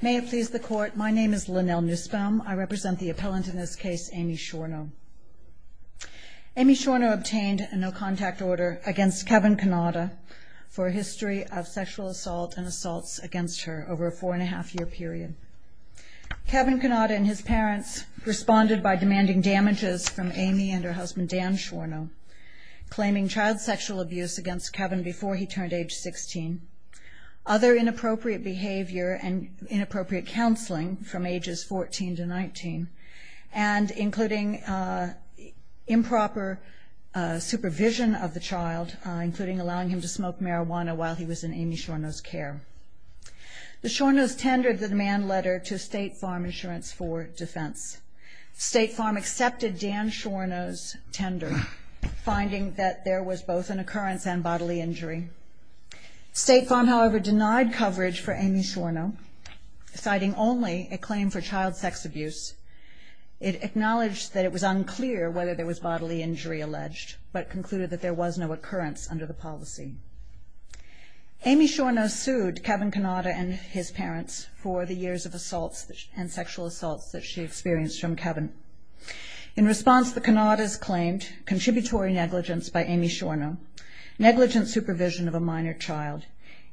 May it please the Court, my name is Lynnell Nussbaum. I represent the appellant in this case, Amy Shorno. Amy Shorno obtained a no-contact order against Kevin Cannata for a history of sexual assault and assaults against her over a four and a half year period. Kevin Cannata and his parents responded by demanding damages from Amy and her husband Dan Shorno, claiming child sexual abuse against Kevin before he turned age 16, other inappropriate behavior and inappropriate counseling from ages 14 to 19, and including improper supervision of the child, including allowing him to smoke marijuana while he was in Amy Shorno's care. The Shornos tendered the demand letter to State Farm Insurance for defense. State Farm accepted Dan Shorno's tender, finding that there was both an occurrence and bodily injury. State Farm however denied coverage for Amy Shorno, citing only a claim for child sex abuse. It acknowledged that it was unclear whether there was bodily injury alleged, but concluded that there was no occurrence under the policy. Amy Shorno sued Kevin Cannata and his parents for the years of assaults and sexual assaults that she experienced from Kevin. In response, the Cannatas claimed contributory negligence by Amy Shorno, negligent supervision of a minor child,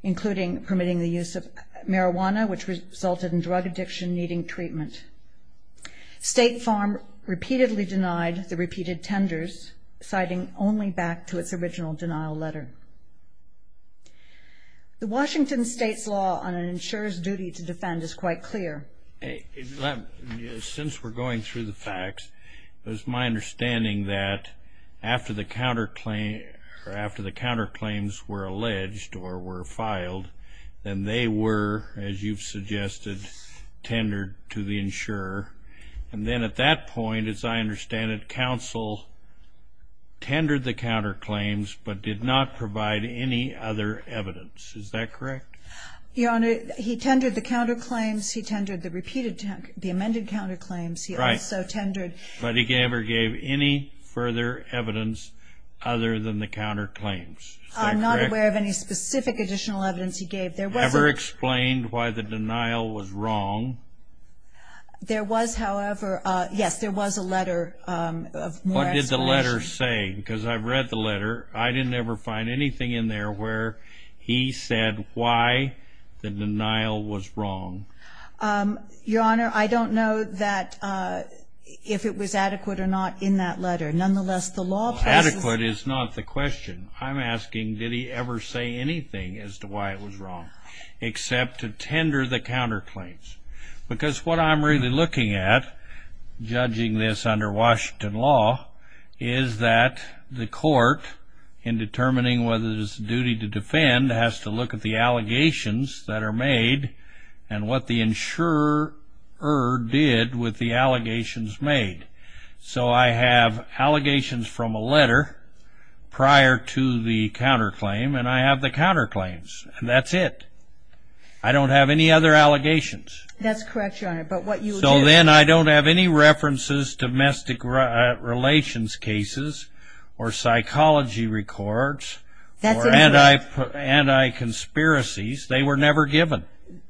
including permitting the use of marijuana, which resulted in drug addiction needing treatment. State Farm repeatedly denied the repeated tenders, citing only back to its original denial letter. The Washington state's law on an insurer's duty to defend is quite clear. Since we're going through the facts, it is my understanding that after the counterclaims were alleged or were filed, then they were, as you've suggested, tendered to the insurer. And then at that point, as I understand it, counsel tendered the counterclaims, but did not provide any other evidence. Is that correct? Your Honor, he tendered the counterclaims, he tendered the amended counterclaims, he also tendered... But he never gave any further evidence other than the counterclaims. I'm not aware of any specific additional evidence he gave. There was... Ever explained why the denial was wrong? There was, however, yes, there was a letter of more... What did the letter say? Because I've read the letter. I didn't ever find anything in there where he said why the denial was wrong. Your Honor, I don't know that if it was adequate or not in that letter. Nonetheless, the law... Adequate is not the question. I'm asking, did he ever say anything as to why it was wrong, except to tender the counterclaims? Because what I'm really looking at, judging this under Washington law, is that the court, in determining whether it is the duty to defend, has to look at the allegations that are made, and what the insurer did with the allegations made. So I have allegations from a letter prior to the counterclaim, and I have the counterclaims, and that's it. I don't have any other allegations. That's correct, Your Honor, but what you... So then I don't have any references to domestic relations cases, or psychology records, or anti-conspiracies. They were never given.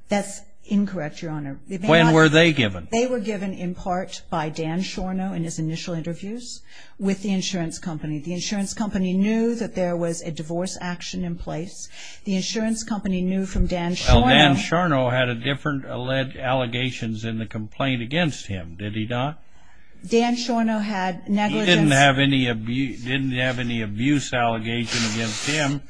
That's incorrect, Your Honor. When were they given? They were given in part by Dan Sharnow in his initial interviews with the insurance company. The insurance company knew that there was a divorce action in place. The insurance company knew from Dan Sharnow... Well, Dan Sharnow had a different alleged allegations in the complaint against him, did he not? Dan Sharnow had negligence... He didn't have any abuse allegation against him.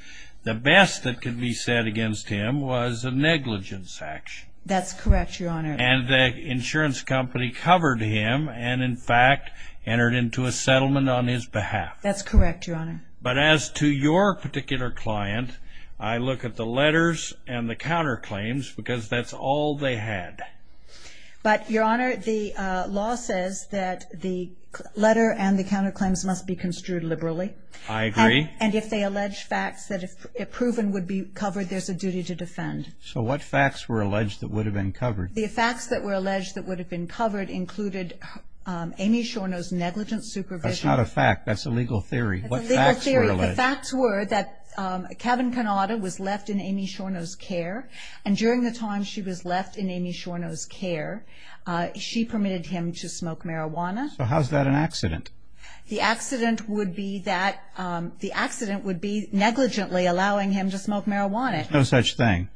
The best that could be said against him was a negligence action. That's correct, Your Honor. And the insurance company covered him, and in fact, entered into a settlement on his behalf. That's correct, Your Honor. But as to your particular client, I look at the letters and the counterclaims, because that's all they had. But, Your Honor, the law says that the letter and the counterclaims must be construed liberally. I agree. And if they allege facts that if proven would be covered, there's a duty to defend. So what facts were alleged that would have been covered? The facts that were alleged that would have been covered included Amy Sharnow's negligent supervision... That's not a fact. That's a legal theory. What facts were alleged? The facts were that Kevin Cannata was left in Amy Sharnow's care, and during the time she was left in Amy Sharnow's care, she permitted him to smoke marijuana. So how's that an accident? The accident would be that the accident would be negligently allowing him to smoke marijuana. No such thing.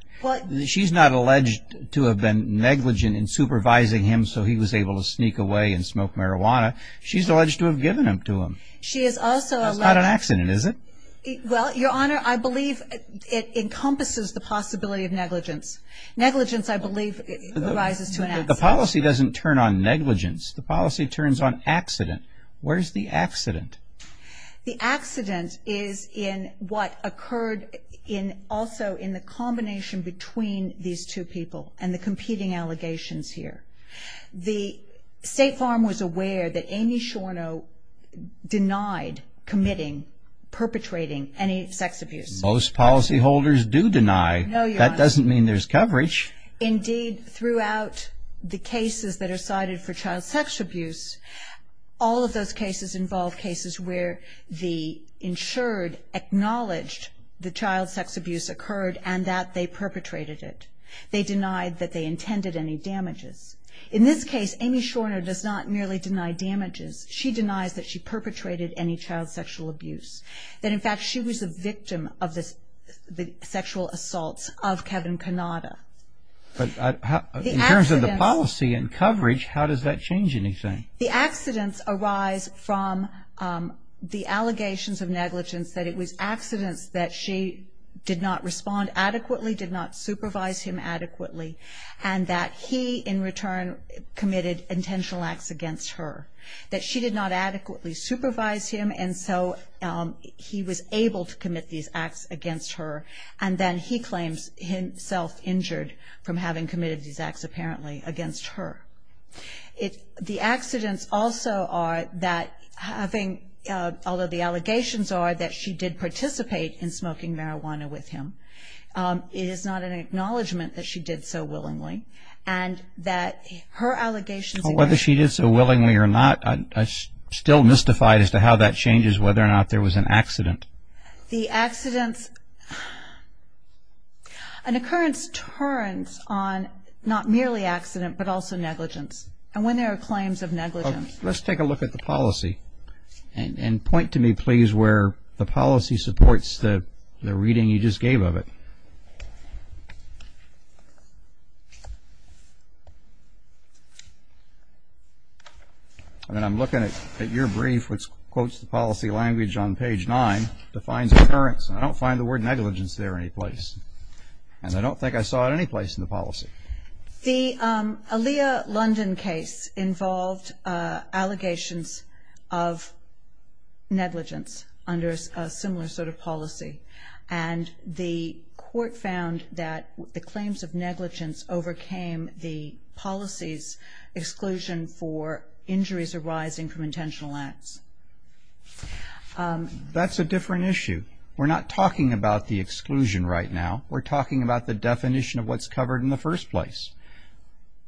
She's not alleged to have been negligent in supervising him so he was able to sneak away and smoke marijuana. She's alleged to have given him to him. She is also... That's not an accident, is it? Well, Your Honor, I believe it encompasses the possibility of negligence. Negligence, I believe, arises to an accident. The policy doesn't turn on negligence. The policy turns on accident. Where's the accident? The accident is in what occurred in also in the combination between these two people and the competing allegations here. The State Farm was aware that Amy Sharnow denied committing, perpetrating any sex abuse. Most policyholders do deny. No, Your Honor. That doesn't mean there's Indeed, throughout the cases that are cited for child sex abuse, all of those cases involve cases where the insured acknowledged the child sex abuse occurred and that they perpetrated it. They denied that they intended any damages. In this case, Amy Sharnow does not merely deny damages. She denies that she perpetrated any child sexual abuse. That, in fact, she was a victim of the sexual assaults of Kevin Cannata. In terms of the policy and coverage, how does that change anything? The accidents arise from the allegations of negligence, that it was accidents that she did not respond adequately, did not supervise him adequately, and that he, in return, committed intentional acts against her. That she did not adequately supervise him, and so he was able to commit these acts against her. And then he claims himself injured from having committed these acts, apparently, against her. The accidents also are that having, although the allegations are that she did participate in smoking marijuana with him, it is not an acknowledgment that she did so willingly. And that her allegations Whether she did so willingly or not, I still mystify as to how that changes whether or not there was an accident. The accidents, an occurrence turns on not merely accident, but also negligence. And when there are claims of negligence. Let's take a look at the policy. And point to me, please, where the policy supports the reading you just gave of it. I mean, I'm looking at your brief, which quotes the policy language on page 9, defines occurrence. I don't find the word negligence there any place. And I don't think I saw it any place in the policy. The Aaliyah London case involved allegations of negligence under a similar sort of policy. And the court found that negligence was a The claims of negligence overcame the policy's exclusion for injuries arising from intentional acts. That's a different issue. We're not talking about the exclusion right now. We're talking about the definition of what's covered in the first place.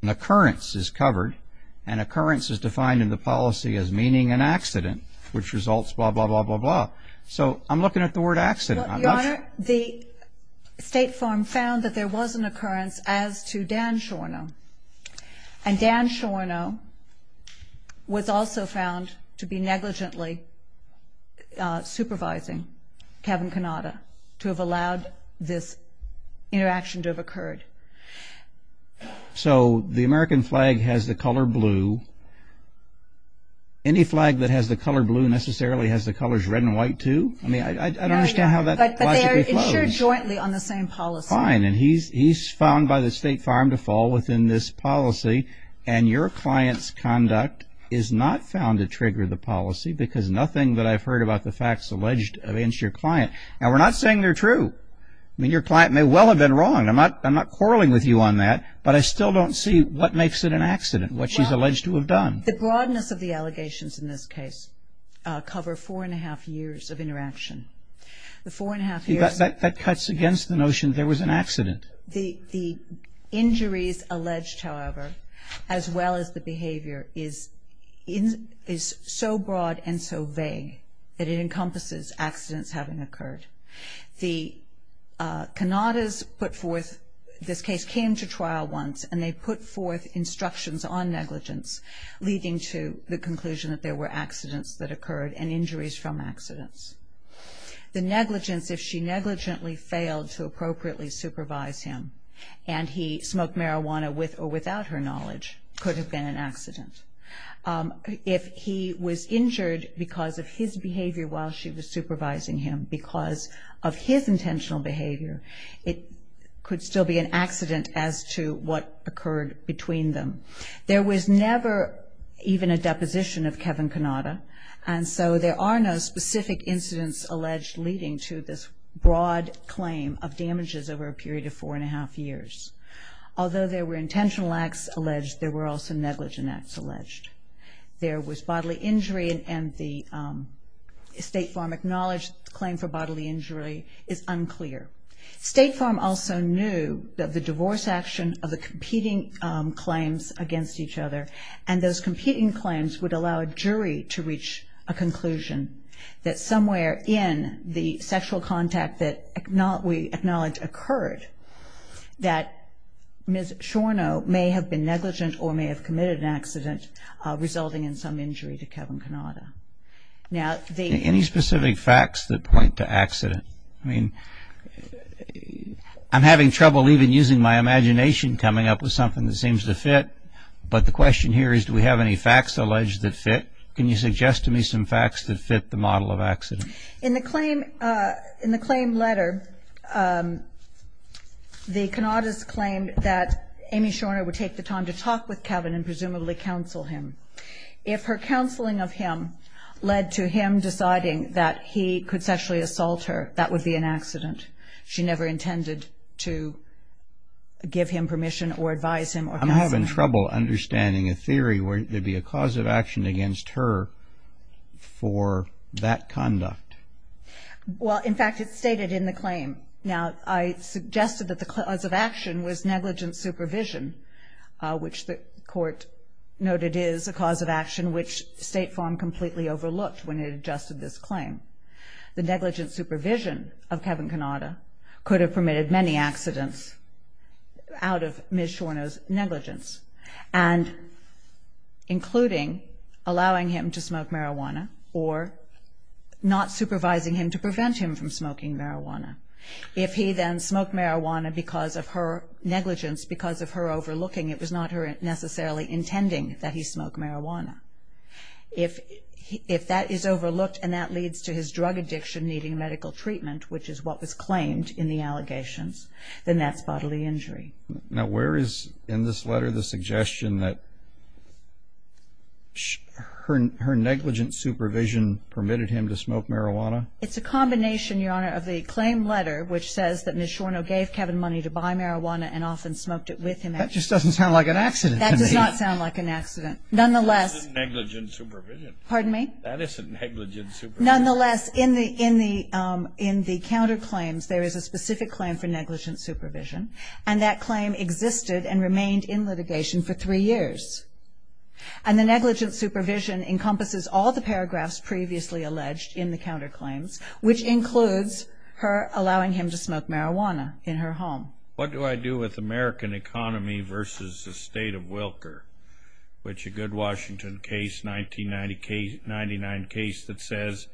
An occurrence is covered. And occurrence is defined in the policy as meaning an accident, which results blah, blah, blah, blah, blah. So I'm looking at the word accident. Your Honor, the State Farm found that there was an occurrence as to Dan Shornow. And Dan Shornow was also found to be negligently supervising Kevin Cannata to have allowed this interaction to have occurred. So the American flag has the color blue. Any flag that has the color blue necessarily has the colors red and white, too? I mean, I don't understand how that logically flows. But they are insured jointly on the same policy. Fine. And he's found by the State Farm to fall within this policy. And your client's conduct is not found to trigger the policy because nothing that I've heard about the facts alleged against your client. Now, we're not saying they're true. I mean, your client may well have been wrong. I'm not quarreling with you on that. But I still don't see what makes it an accident, what she's alleged to have done. The broadness of the allegations in this case cover four-and-a-half years of interaction. The four-and-a-half years... That cuts against the notion there was an accident. The injuries alleged, however, as well as the behavior is so broad and so vague that it encompasses accidents having occurred. The Cannatas put forth this case, came to trial once, and they put forth instructions on negligence, leading to the conclusion that there were accidents that occurred and injuries from accidents. The negligence, if she negligently failed to appropriately supervise him and he smoked marijuana with or without her knowledge, could have been an accident. If he was injured because of his behavior while she was supervising him, because of his intentional behavior, it could still be an accident as to what occurred between them. There was never even a deposition of Kevin Cannata, and so there are no specific incidents alleged leading to this broad claim of damages over a period of four-and-a-half years. Although there were intentional acts alleged, there were also negligent acts alleged. There was bodily injury and the State Farm acknowledged the claim for bodily injury is unclear. State Farm also knew that the divorce action of the competing claims against each other and those competing claims would allow a jury to reach a conclusion that somewhere in the sexual contact that we acknowledge occurred that Ms. Shornow may have been negligent or may have committed an accident resulting in some injury to Kevin Cannata. Any specific facts that point to accident? I mean, I'm having trouble even using my imagination coming up with something that seems to fit, but the question here is do we have any facts alleged that fit? Can you suggest to me some facts that fit the model of accident? In the claim letter, the Cannatas claimed that Amy Shornow would take the time to talk with Kevin and presumably counsel him. If her counseling of him led to him deciding that he could sexually assault her, that would be an accident. She never intended to give him permission or advise him or counsel him. I'm having trouble understanding a theory where there'd be a cause of action against her for that conduct. Well, in fact, it's stated in the claim. Now, I suggested that the cause of action was negligent supervision, which the court noted is a cause of action which State Farm completely overlooked when it adjusted this claim. The negligent supervision of Kevin Cannata could have permitted many accidents out of Ms. Shornow's negligence, including allowing him to smoke marijuana or not supervising him to prevent him from smoking marijuana. If he then smoked marijuana because of her negligence, because of her overlooking, it was not her necessarily intending that he smoke marijuana. If that is overlooked and that leads to his drug addiction needing medical treatment, which is what was claimed in the allegations, then that's bodily injury. Now, where is in this letter the suggestion that her negligent supervision permitted him to smoke marijuana? It's a combination, Your Honor, of the claim letter, which says that Ms. Shornow gave Kevin money to buy marijuana and often smoked it with him. That just doesn't sound like an accident to me. That does not sound like an accident. That isn't negligent supervision. Pardon me? That isn't negligent supervision. Nonetheless, in the counterclaims, there is a specific claim for negligent supervision, and that claim existed and remained in litigation for three years. And the negligent supervision encompasses all the paragraphs previously alleged in the counterclaims, which includes her allowing him to smoke marijuana in her home. What do I do with American economy versus the state of Wilker, which a good Washington case, 1999 case, that says,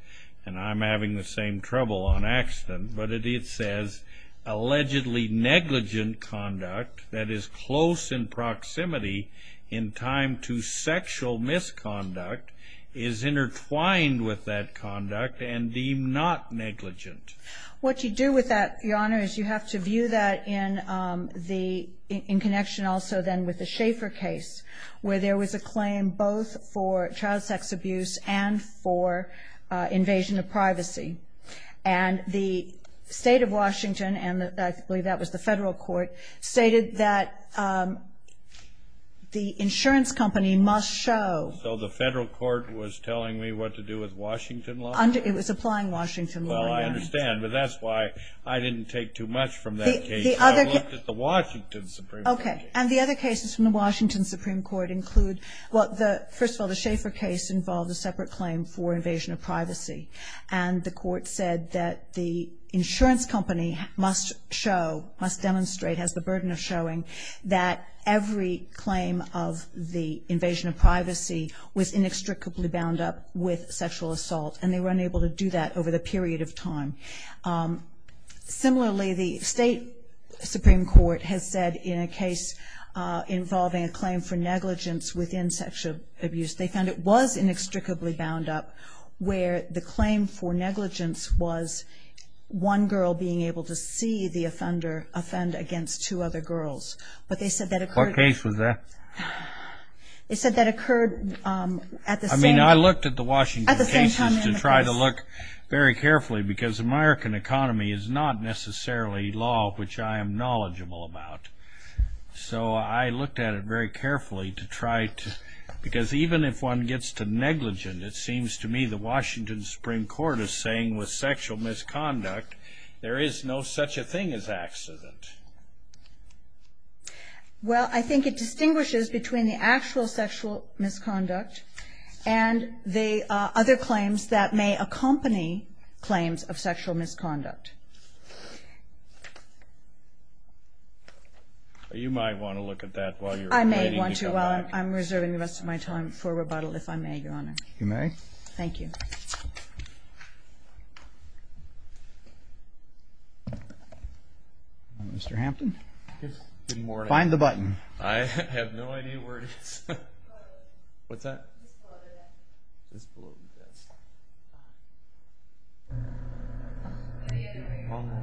and I'm having the same trouble on accident, but it says allegedly negligent conduct that is close in proximity in time to sexual misconduct is intertwined with that conduct and deemed not negligent. What you do with that, Your Honor, is you have to view that in connection also then with the Schaeffer case, where there was a claim both for child sex abuse and for invasion of privacy. And the state of Washington, and I believe that was the federal court, stated that the insurance company must show. So the federal court was telling me what to do with Washington law? It was applying Washington law, Your Honor. Well, I understand, but that's why I didn't take too much from that case. I looked at the Washington Supreme Court case. Okay. And the other cases from the Washington Supreme Court include, well, first of all, the Schaeffer case involved a separate claim for invasion of privacy. And the court said that the insurance company must show, must demonstrate, has the burden of showing, that every claim of the invasion of privacy was inextricably bound up with sexual assault, and they were unable to do that over the period of time. Similarly, the state Supreme Court has said in a case involving a claim for negligence within sexual abuse, they found it was inextricably bound up, where the claim for negligence was one girl being able to see the offender offend against two other girls. What case was that? It said that occurred at the same time in the case. I mean, I looked at the Washington cases to try to look very carefully, because American economy is not necessarily law, which I am knowledgeable about. So I looked at it very carefully to try to, because even if one gets to negligent, it seems to me the Washington Supreme Court is saying with sexual misconduct, there is no such a thing as accident. Well, I think it distinguishes between the actual sexual misconduct and the other claims that may accompany claims of sexual misconduct. You might want to look at that while you're waiting. I may want to while I'm reserving the rest of my time for rebuttal, if I may, Your Honor. You may. Thank you. Thank you. Mr. Hampton. Good morning. Find the button. I have no idea where it is. What's that? It's below the desk. It's below the desk.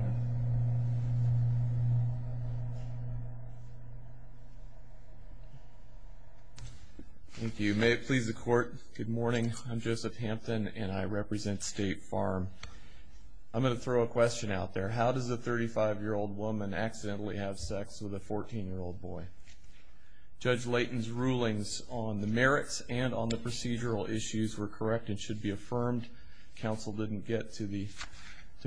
Thank you. May it please the Court. Good morning. I'm Joseph Hampton, and I represent State Farm. I'm going to throw a question out there. How does a 35-year-old woman accidentally have sex with a 14-year-old boy? Judge Layton's rulings on the merits and on the procedural issues were correct and should be affirmed. Counsel didn't get to the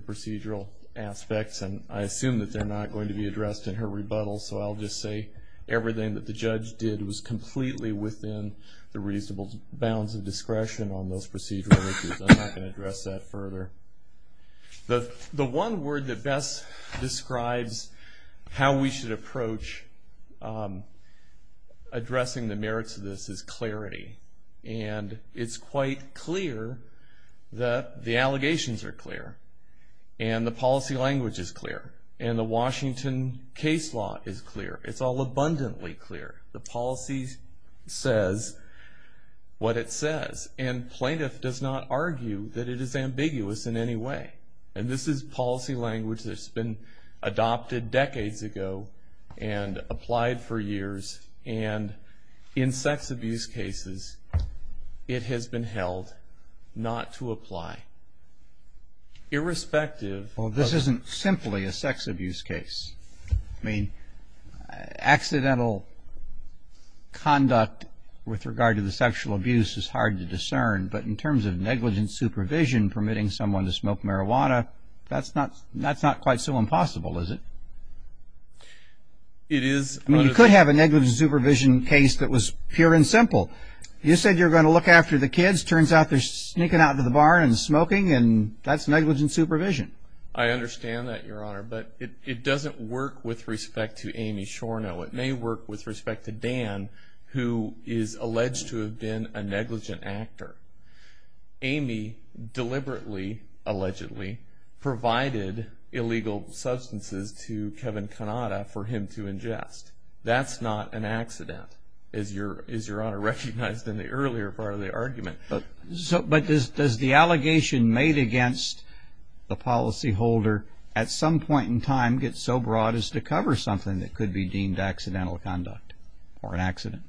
procedural aspects, and I assume that they're not going to be addressed in her rebuttal. So I'll just say everything that the judge did was completely within the reasonable bounds of discretion on those procedural issues. I'm not going to address that further. The one word that best describes how we should approach addressing the merits of this is clarity, and it's quite clear that the allegations are clear, and the policy language is clear, and the Washington case law is clear. It's all abundantly clear. The policy says what it says, and plaintiff does not argue that it is ambiguous in any way. And this is policy language that's been adopted decades ago and applied for years, and in sex abuse cases it has been held not to apply. Irrespective of... Well, this isn't simply a sex abuse case. I mean, accidental conduct with regard to the sexual abuse is hard to discern, but in terms of negligent supervision permitting someone to smoke marijuana, that's not quite so impossible, is it? It is. I mean, you could have a negligent supervision case that was pure and simple. You said you're going to look after the kids. Turns out they're sneaking out to the bar and smoking, and that's negligent supervision. I understand that, Your Honor. But it doesn't work with respect to Amy Shornow. It may work with respect to Dan, who is alleged to have been a negligent actor. Amy deliberately, allegedly, provided illegal substances to Kevin Cannata for him to ingest. That's not an accident, as Your Honor recognized in the earlier part of the argument. But does the allegation made against the policyholder at some point in time get so broad as to cover something that could be deemed accidental conduct or an accident?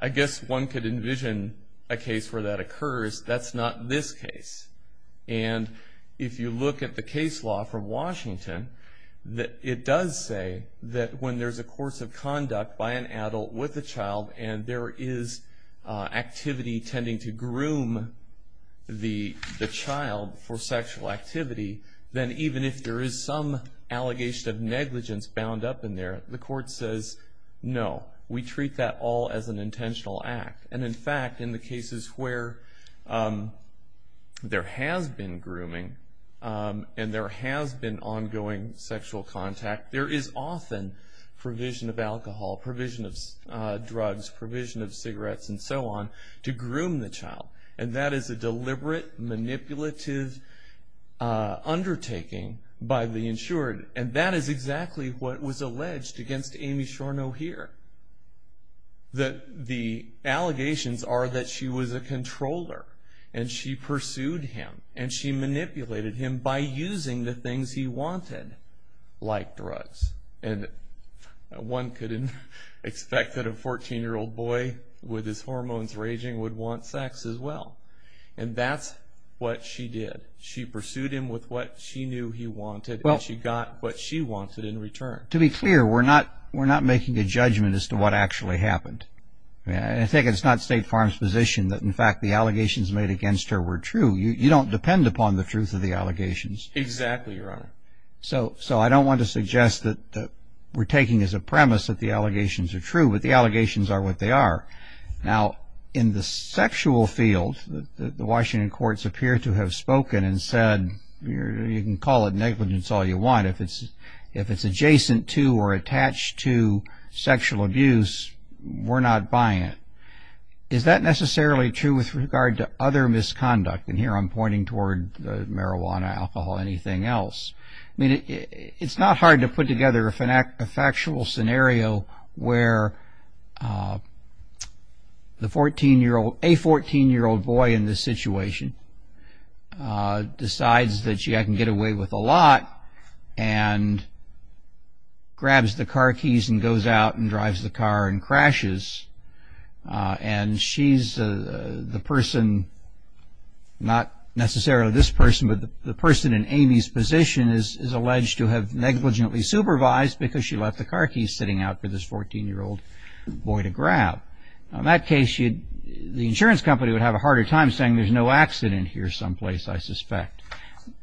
I guess one could envision a case where that occurs. That's not this case. And if you look at the case law from Washington, it does say that when there's a course of conduct by an adult with a child and there is activity tending to groom the child for sexual activity, then even if there is some allegation of negligence bound up in there, the court says, no, we treat that all as an intentional act. And, in fact, in the cases where there has been grooming and there has been ongoing sexual contact, there is often provision of alcohol, provision of drugs, provision of cigarettes and so on to groom the child. And that is a deliberate, manipulative undertaking by the insured. And that is exactly what was alleged against Amy Shornow here. The allegations are that she was a controller and she pursued him and she manipulated him by using the things he wanted, like drugs. And one could expect that a 14-year-old boy with his hormones raging would want sex as well. And that's what she did. She pursued him with what she knew he wanted and she got what she wanted in return. To be clear, we're not making a judgment as to what actually happened. I think it's not State Farm's position that, in fact, the allegations made against her were true. You don't depend upon the truth of the allegations. Exactly, Your Honor. So I don't want to suggest that we're taking as a premise that the allegations are true, but the allegations are what they are. Now, in the sexual field, the Washington courts appear to have spoken and said, you can call it negligence all you want. If it's adjacent to or attached to sexual abuse, we're not buying it. Is that necessarily true with regard to other misconduct? And here I'm pointing toward marijuana, alcohol, anything else. I mean, it's not hard to put together a factual scenario where the 14-year-old, a 14-year-old boy in this situation decides that she can get away with a lot and grabs the car keys and goes out and drives the car and crashes. And she's the person, not necessarily this person, but the person in Amy's position is alleged to have negligently supervised because she left the car keys sitting out for this 14-year-old boy to grab. In that case, the insurance company would have a harder time saying, there's no accident here someplace, I suspect.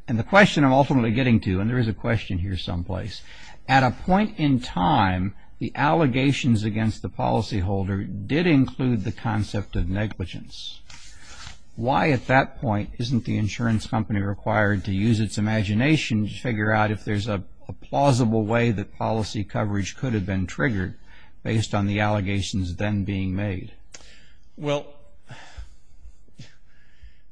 And the question I'm ultimately getting to, and there is a question here someplace, at a point in time, the allegations against the policyholder did include the concept of negligence. Why at that point isn't the insurance company required to use its imagination to figure out if there's a plausible way that policy coverage could have been triggered based on the allegations then being made? Well,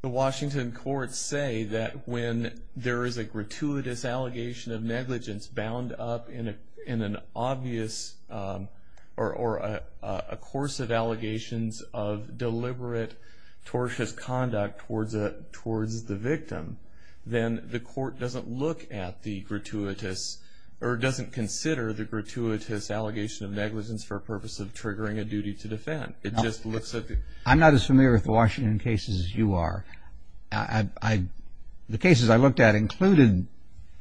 the Washington courts say that when there is a gratuitous allegation of negligence bound up in an obvious or a course of allegations of deliberate tortious conduct towards the victim, then the court doesn't look at the gratuitous or doesn't consider the gratuitous allegation of negligence for a purpose of triggering a duty to defend. I'm not as familiar with the Washington cases as you are. The cases I looked at included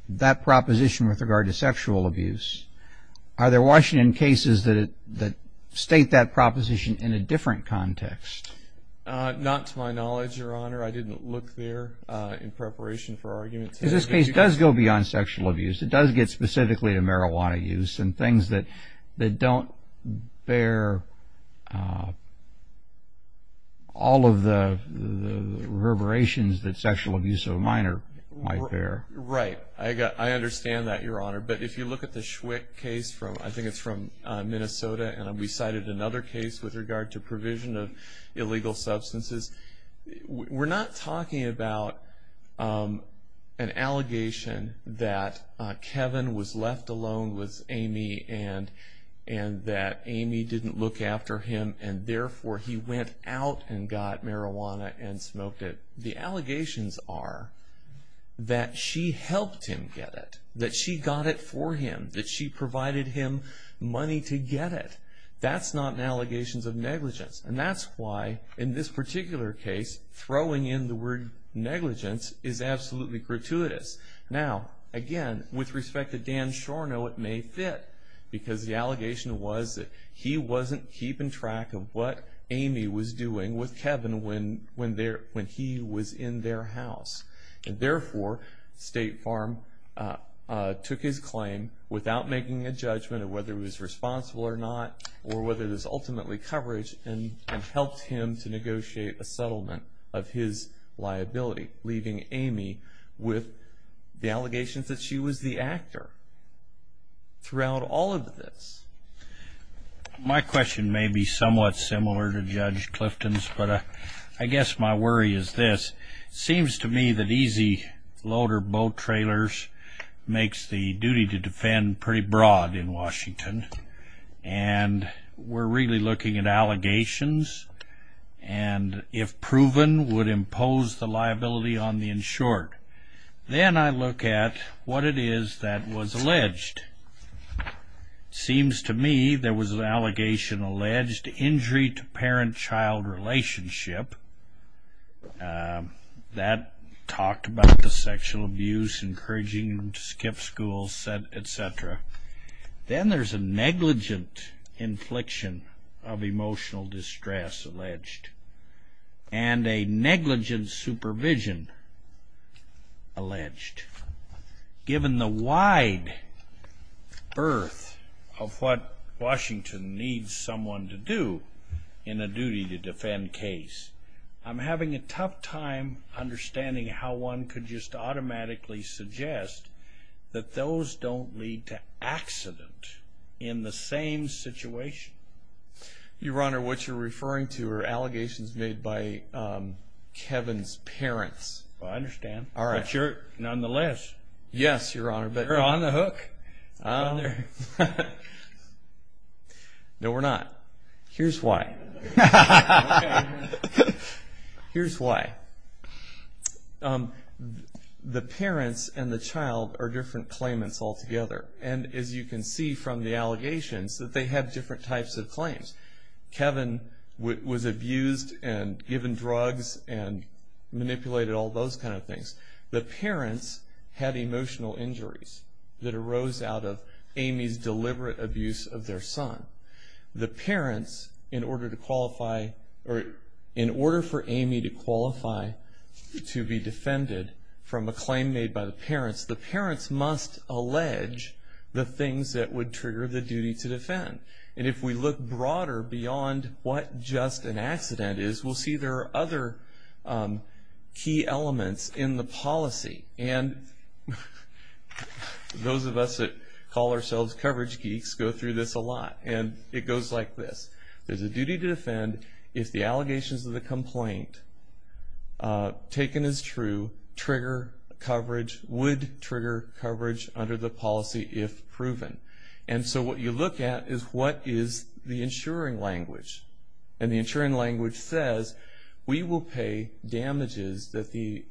that proposition with regard to sexual abuse. Are there Washington cases that state that proposition in a different context? Not to my knowledge, Your Honor. I didn't look there in preparation for arguments. This case does go beyond sexual abuse. It does get specifically to marijuana use and things that don't bear all of the reverberations that sexual abuse of a minor might bear. Right. I understand that, Your Honor. But if you look at the Schwick case, I think it's from Minnesota, and we cited another case with regard to provision of illegal substances, we're not talking about an allegation that Kevin was left alone with Amy and that Amy didn't look after him and therefore he went out and got marijuana and smoked it. The allegations are that she helped him get it, that she got it for him, that she provided him money to get it. That's not an allegation of negligence. And that's why, in this particular case, throwing in the word negligence is absolutely gratuitous. Now, again, with respect to Dan Shorno, it may fit because the allegation was that he wasn't keeping track of what Amy was doing with Kevin when he was in their house. And therefore State Farm took his claim without making a judgment of whether he was responsible or not or whether it was ultimately coverage and helped him to negotiate a settlement of his liability, leaving Amy with the allegations that she was the actor throughout all of this. My question may be somewhat similar to Judge Clifton's, but I guess my worry is this. It seems to me that easy loader boat trailers makes the duty to defend pretty broad in Washington, and we're really looking at allegations, and if proven, would impose the liability on the insured. Then I look at what it is that was alleged. It seems to me there was an allegation alleged, injury to parent-child relationship. That talked about the sexual abuse, encouraging them to skip school, et cetera. Then there's a negligent infliction of emotional distress alleged and a negligent supervision alleged. Given the wide berth of what Washington needs someone to do in a duty to defend case, I'm having a tough time understanding how one could just automatically suggest that those don't lead to accident in the same situation. Your Honor, what you're referring to are allegations made by Kevin's parents. I understand. Nonetheless. Yes, Your Honor. You're on the hook. No, we're not. Here's why. Okay. Here's why. The parents and the child are different claimants altogether, and as you can see from the allegations that they have different types of claims. Kevin was abused and given drugs and manipulated, all those kind of things. The parents had emotional injuries that arose out of Amy's deliberate abuse of their son. The parents, in order for Amy to qualify to be defended from a claim made by the parents, the parents must allege the things that would trigger the duty to defend. And if we look broader beyond what just an accident is, we'll see there are other key elements in the policy. And those of us that call ourselves coverage geeks go through this a lot, and it goes like this. There's a duty to defend if the allegations of the complaint, taken as true, trigger coverage, would trigger coverage under the policy if proven. And so what you look at is what is the insuring language. And the insuring language says we will pay damages that the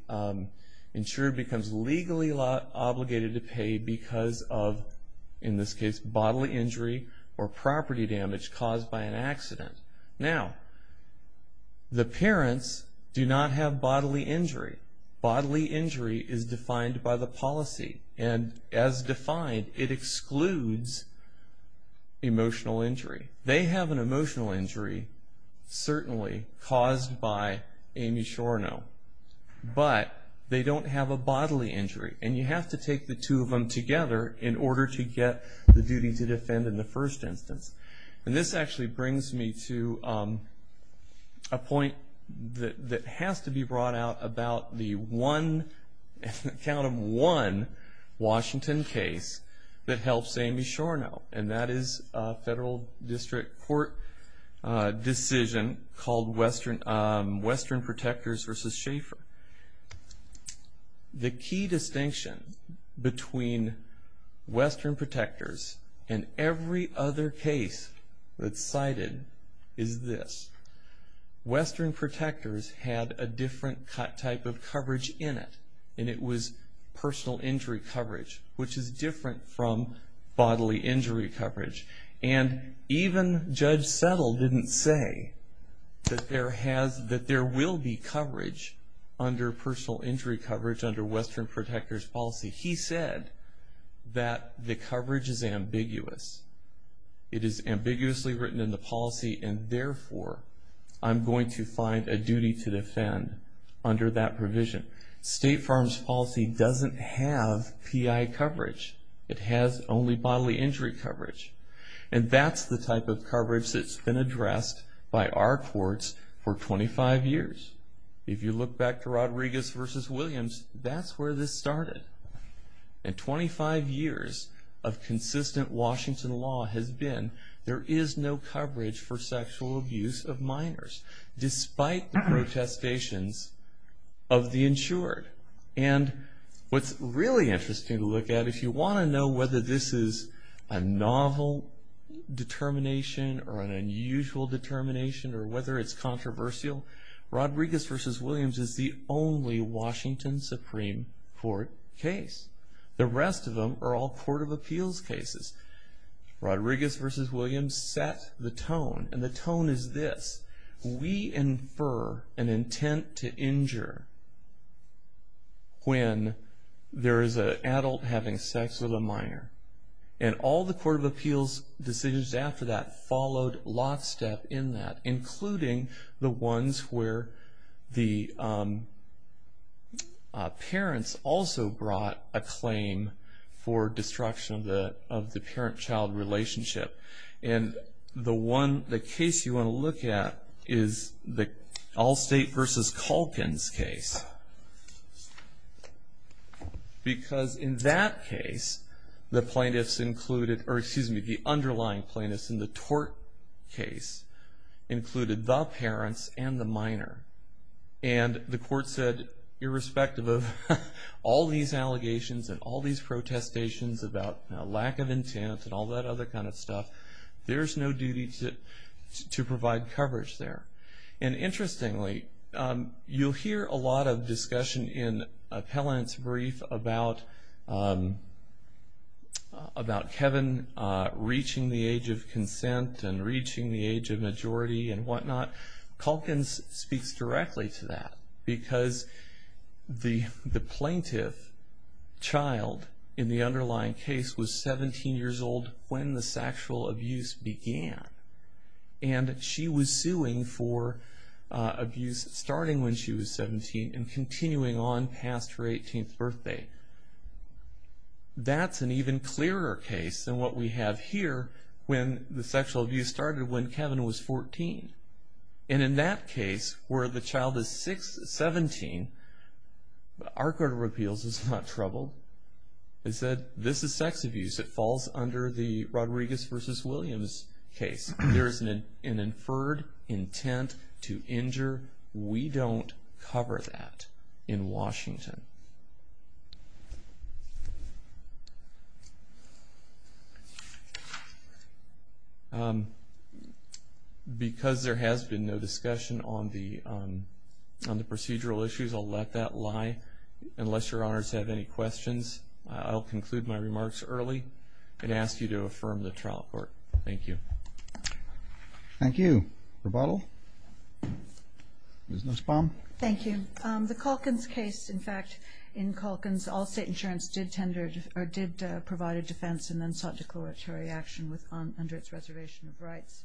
insurer becomes legally obligated to pay because of, in this case, bodily injury or property damage caused by an accident. Now, the parents do not have bodily injury. Bodily injury is defined by the policy. And as defined, it excludes emotional injury. They have an emotional injury, certainly, caused by Amy Shornow. But they don't have a bodily injury. And you have to take the two of them together in order to get the duty to defend in the first instance. And this actually brings me to a point that has to be brought out about the one Washington case that helps Amy Shornow, and that is a federal district court decision called Western Protectors versus Schaefer. The key distinction between Western Protectors and every other case that's cited is this. There was coverage in it, and it was personal injury coverage, which is different from bodily injury coverage. And even Judge Settle didn't say that there will be coverage under personal injury coverage under Western Protectors policy. He said that the coverage is ambiguous. It is ambiguously written in the policy, and therefore I'm going to find a duty to defend under that provision. State farms policy doesn't have PI coverage. It has only bodily injury coverage. And that's the type of coverage that's been addressed by our courts for 25 years. If you look back to Rodriguez versus Williams, that's where this started. And 25 years of consistent Washington law has been there is no coverage for sexual abuse of minors despite the protestations of the insured. And what's really interesting to look at, if you want to know whether this is a novel determination or an unusual determination or whether it's controversial, Rodriguez versus Williams is the only Washington Supreme Court case. The rest of them are all court of appeals cases. Rodriguez versus Williams set the tone. And the tone is this. We infer an intent to injure when there is an adult having sex with a minor. And all the court of appeals decisions after that followed lockstep in that, including the ones where the parents also brought a claim for destruction of the parent-child relationship. And the case you want to look at is the Allstate versus Culkin's case. Because in that case, the plaintiffs included, or excuse me, the underlying plaintiffs in the tort case included the parents and the minor. And the court said, irrespective of all these allegations and all these intent and all that other kind of stuff, there's no duty to provide coverage there. And interestingly, you'll hear a lot of discussion in appellant's brief about Kevin reaching the age of consent and reaching the age of majority and whatnot. Culkin's speaks directly to that because the plaintiff child in the underlying case was 17 years old when the sexual abuse began. And she was suing for abuse starting when she was 17 and continuing on past her 18th birthday. That's an even clearer case than what we have here when the sexual abuse started when Kevin was 14. And in that case, where the child is 17, our court of appeals is not troubled. It said, this is sex abuse. It falls under the Rodriguez versus Williams case. There is an inferred intent to injure. We don't cover that in Washington. Because there has been no discussion on the procedural issues, I'll let that lie. Unless your honors have any questions, I'll conclude my remarks early and ask you to affirm the trial court. Thank you. Thank you. Rebuttal? Ms. Nussbaum? Thank you. The Culkin's case, in fact, in Culkin's, all state insurance did provide a defense and then sought declaratory action under its reservation of rights.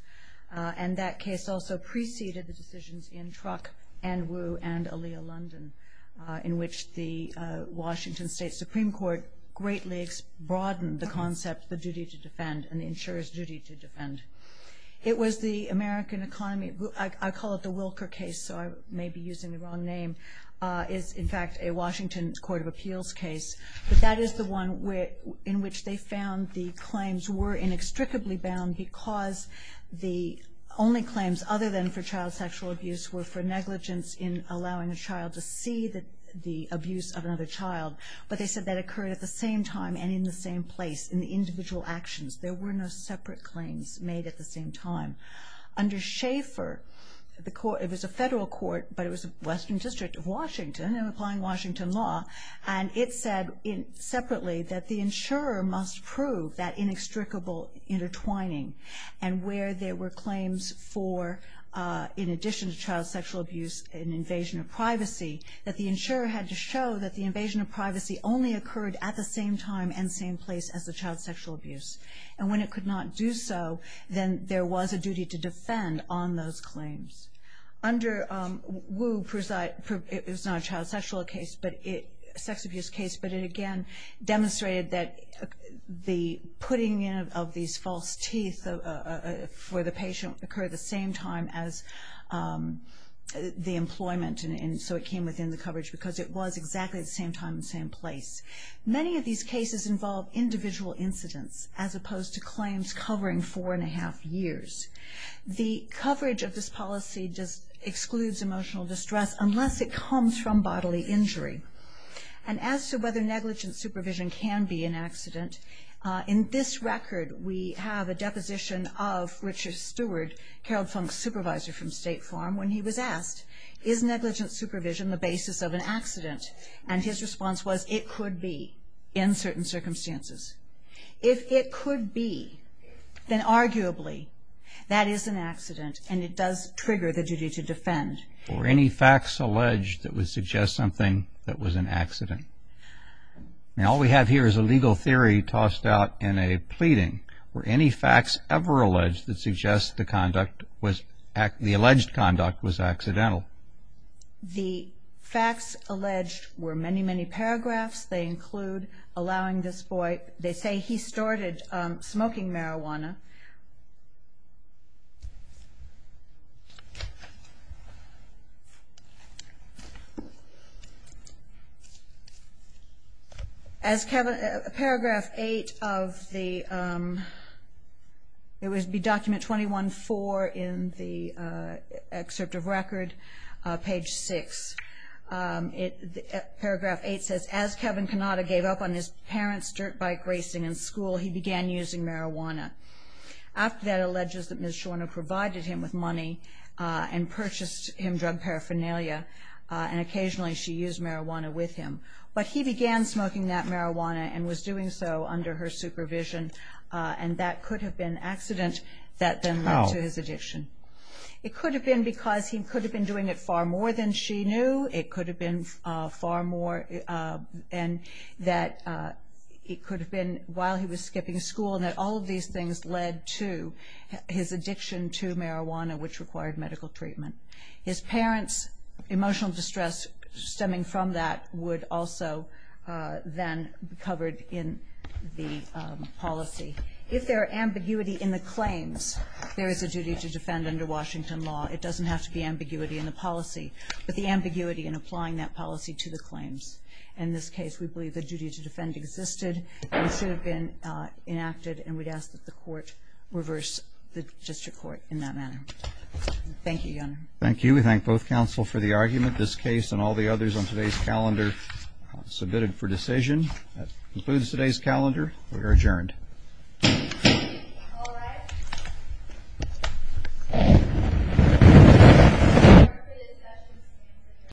And that case also preceded the decisions in Truck and Wu and Alia London in which the Washington State Supreme Court greatly broadened the concept, the duty to defend and the insurer's duty to defend. It was the American economy, I call it the Wilker case, so I may be using the wrong name, is, in fact, a Washington court of appeals case. But that is the one in which they found the claims were inextricably bound because the only claims other than for child sexual abuse were for negligence in allowing a child to see the abuse of another child. But they said that occurred at the same time and in the same place, in the individual actions. There were no separate claims made at the same time. Under Schaeffer, it was a federal court, but it was the Western District of Washington, and applying Washington law, and it said separately that the insurer must prove that inextricable intertwining and where there were claims for, in addition to child sexual abuse, an invasion of privacy, that the insurer had to show that the invasion of privacy only occurred at the same time and same place as the child sexual abuse. And when it could not do so, then there was a duty to defend on those claims. Under Wu, it was not a child sexual abuse case, but it again demonstrated that the putting in of these false teeth for the patient occurred at the same time as the employment, and so it came within the coverage because it was exactly at the same time and same place. Many of these cases involve individual incidents as opposed to claims covering four and a half years. The coverage of this policy just excludes emotional distress unless it comes from bodily injury. And as to whether negligent supervision can be an accident, in this record we have a deposition of Richard Stewart, Carol Funk's supervisor from State Farm, when he was asked, is negligent supervision the basis of an accident? And his response was, it could be in certain circumstances. If it could be, then arguably that is an accident, and it does trigger the duty to defend. Were any facts alleged that would suggest something that was an accident? Now all we have here is a legal theory tossed out in a pleading. Were any facts ever alleged that suggest the conduct was, the alleged conduct was accidental? The facts alleged were many, many paragraphs. They include allowing this boy, they say he started smoking marijuana. As paragraph 8 of the, it would be document 21-4 in the excerpt of record, page 6. Paragraph 8 says, as Kevin Cannata gave up on his parents' dirt bike racing in school, he began using marijuana. After that alleges that Ms. Shorner provided him with money and purchased him drug paraphernalia, and occasionally she used marijuana with him. But he began smoking that marijuana and was doing so under her supervision, and that could have been accident that then led to his addiction. It could have been because he could have been doing it far more than she knew. It could have been far more, and that it could have been while he was skipping school and that all of these things led to his addiction to marijuana, which required medical treatment. His parents' emotional distress stemming from that would also then be covered in the policy. If there are ambiguity in the claims, there is a duty to defend under Washington law. It doesn't have to be ambiguity in the policy, but the ambiguity in applying that policy to the claims. In this case, we believe the duty to defend existed and should have been enacted, and we'd ask that the court reverse the district court in that manner. Thank you, Your Honor. Thank you. We thank both counsel for the argument. This case and all the others on today's calendar submitted for decision. That concludes today's calendar. We are adjourned.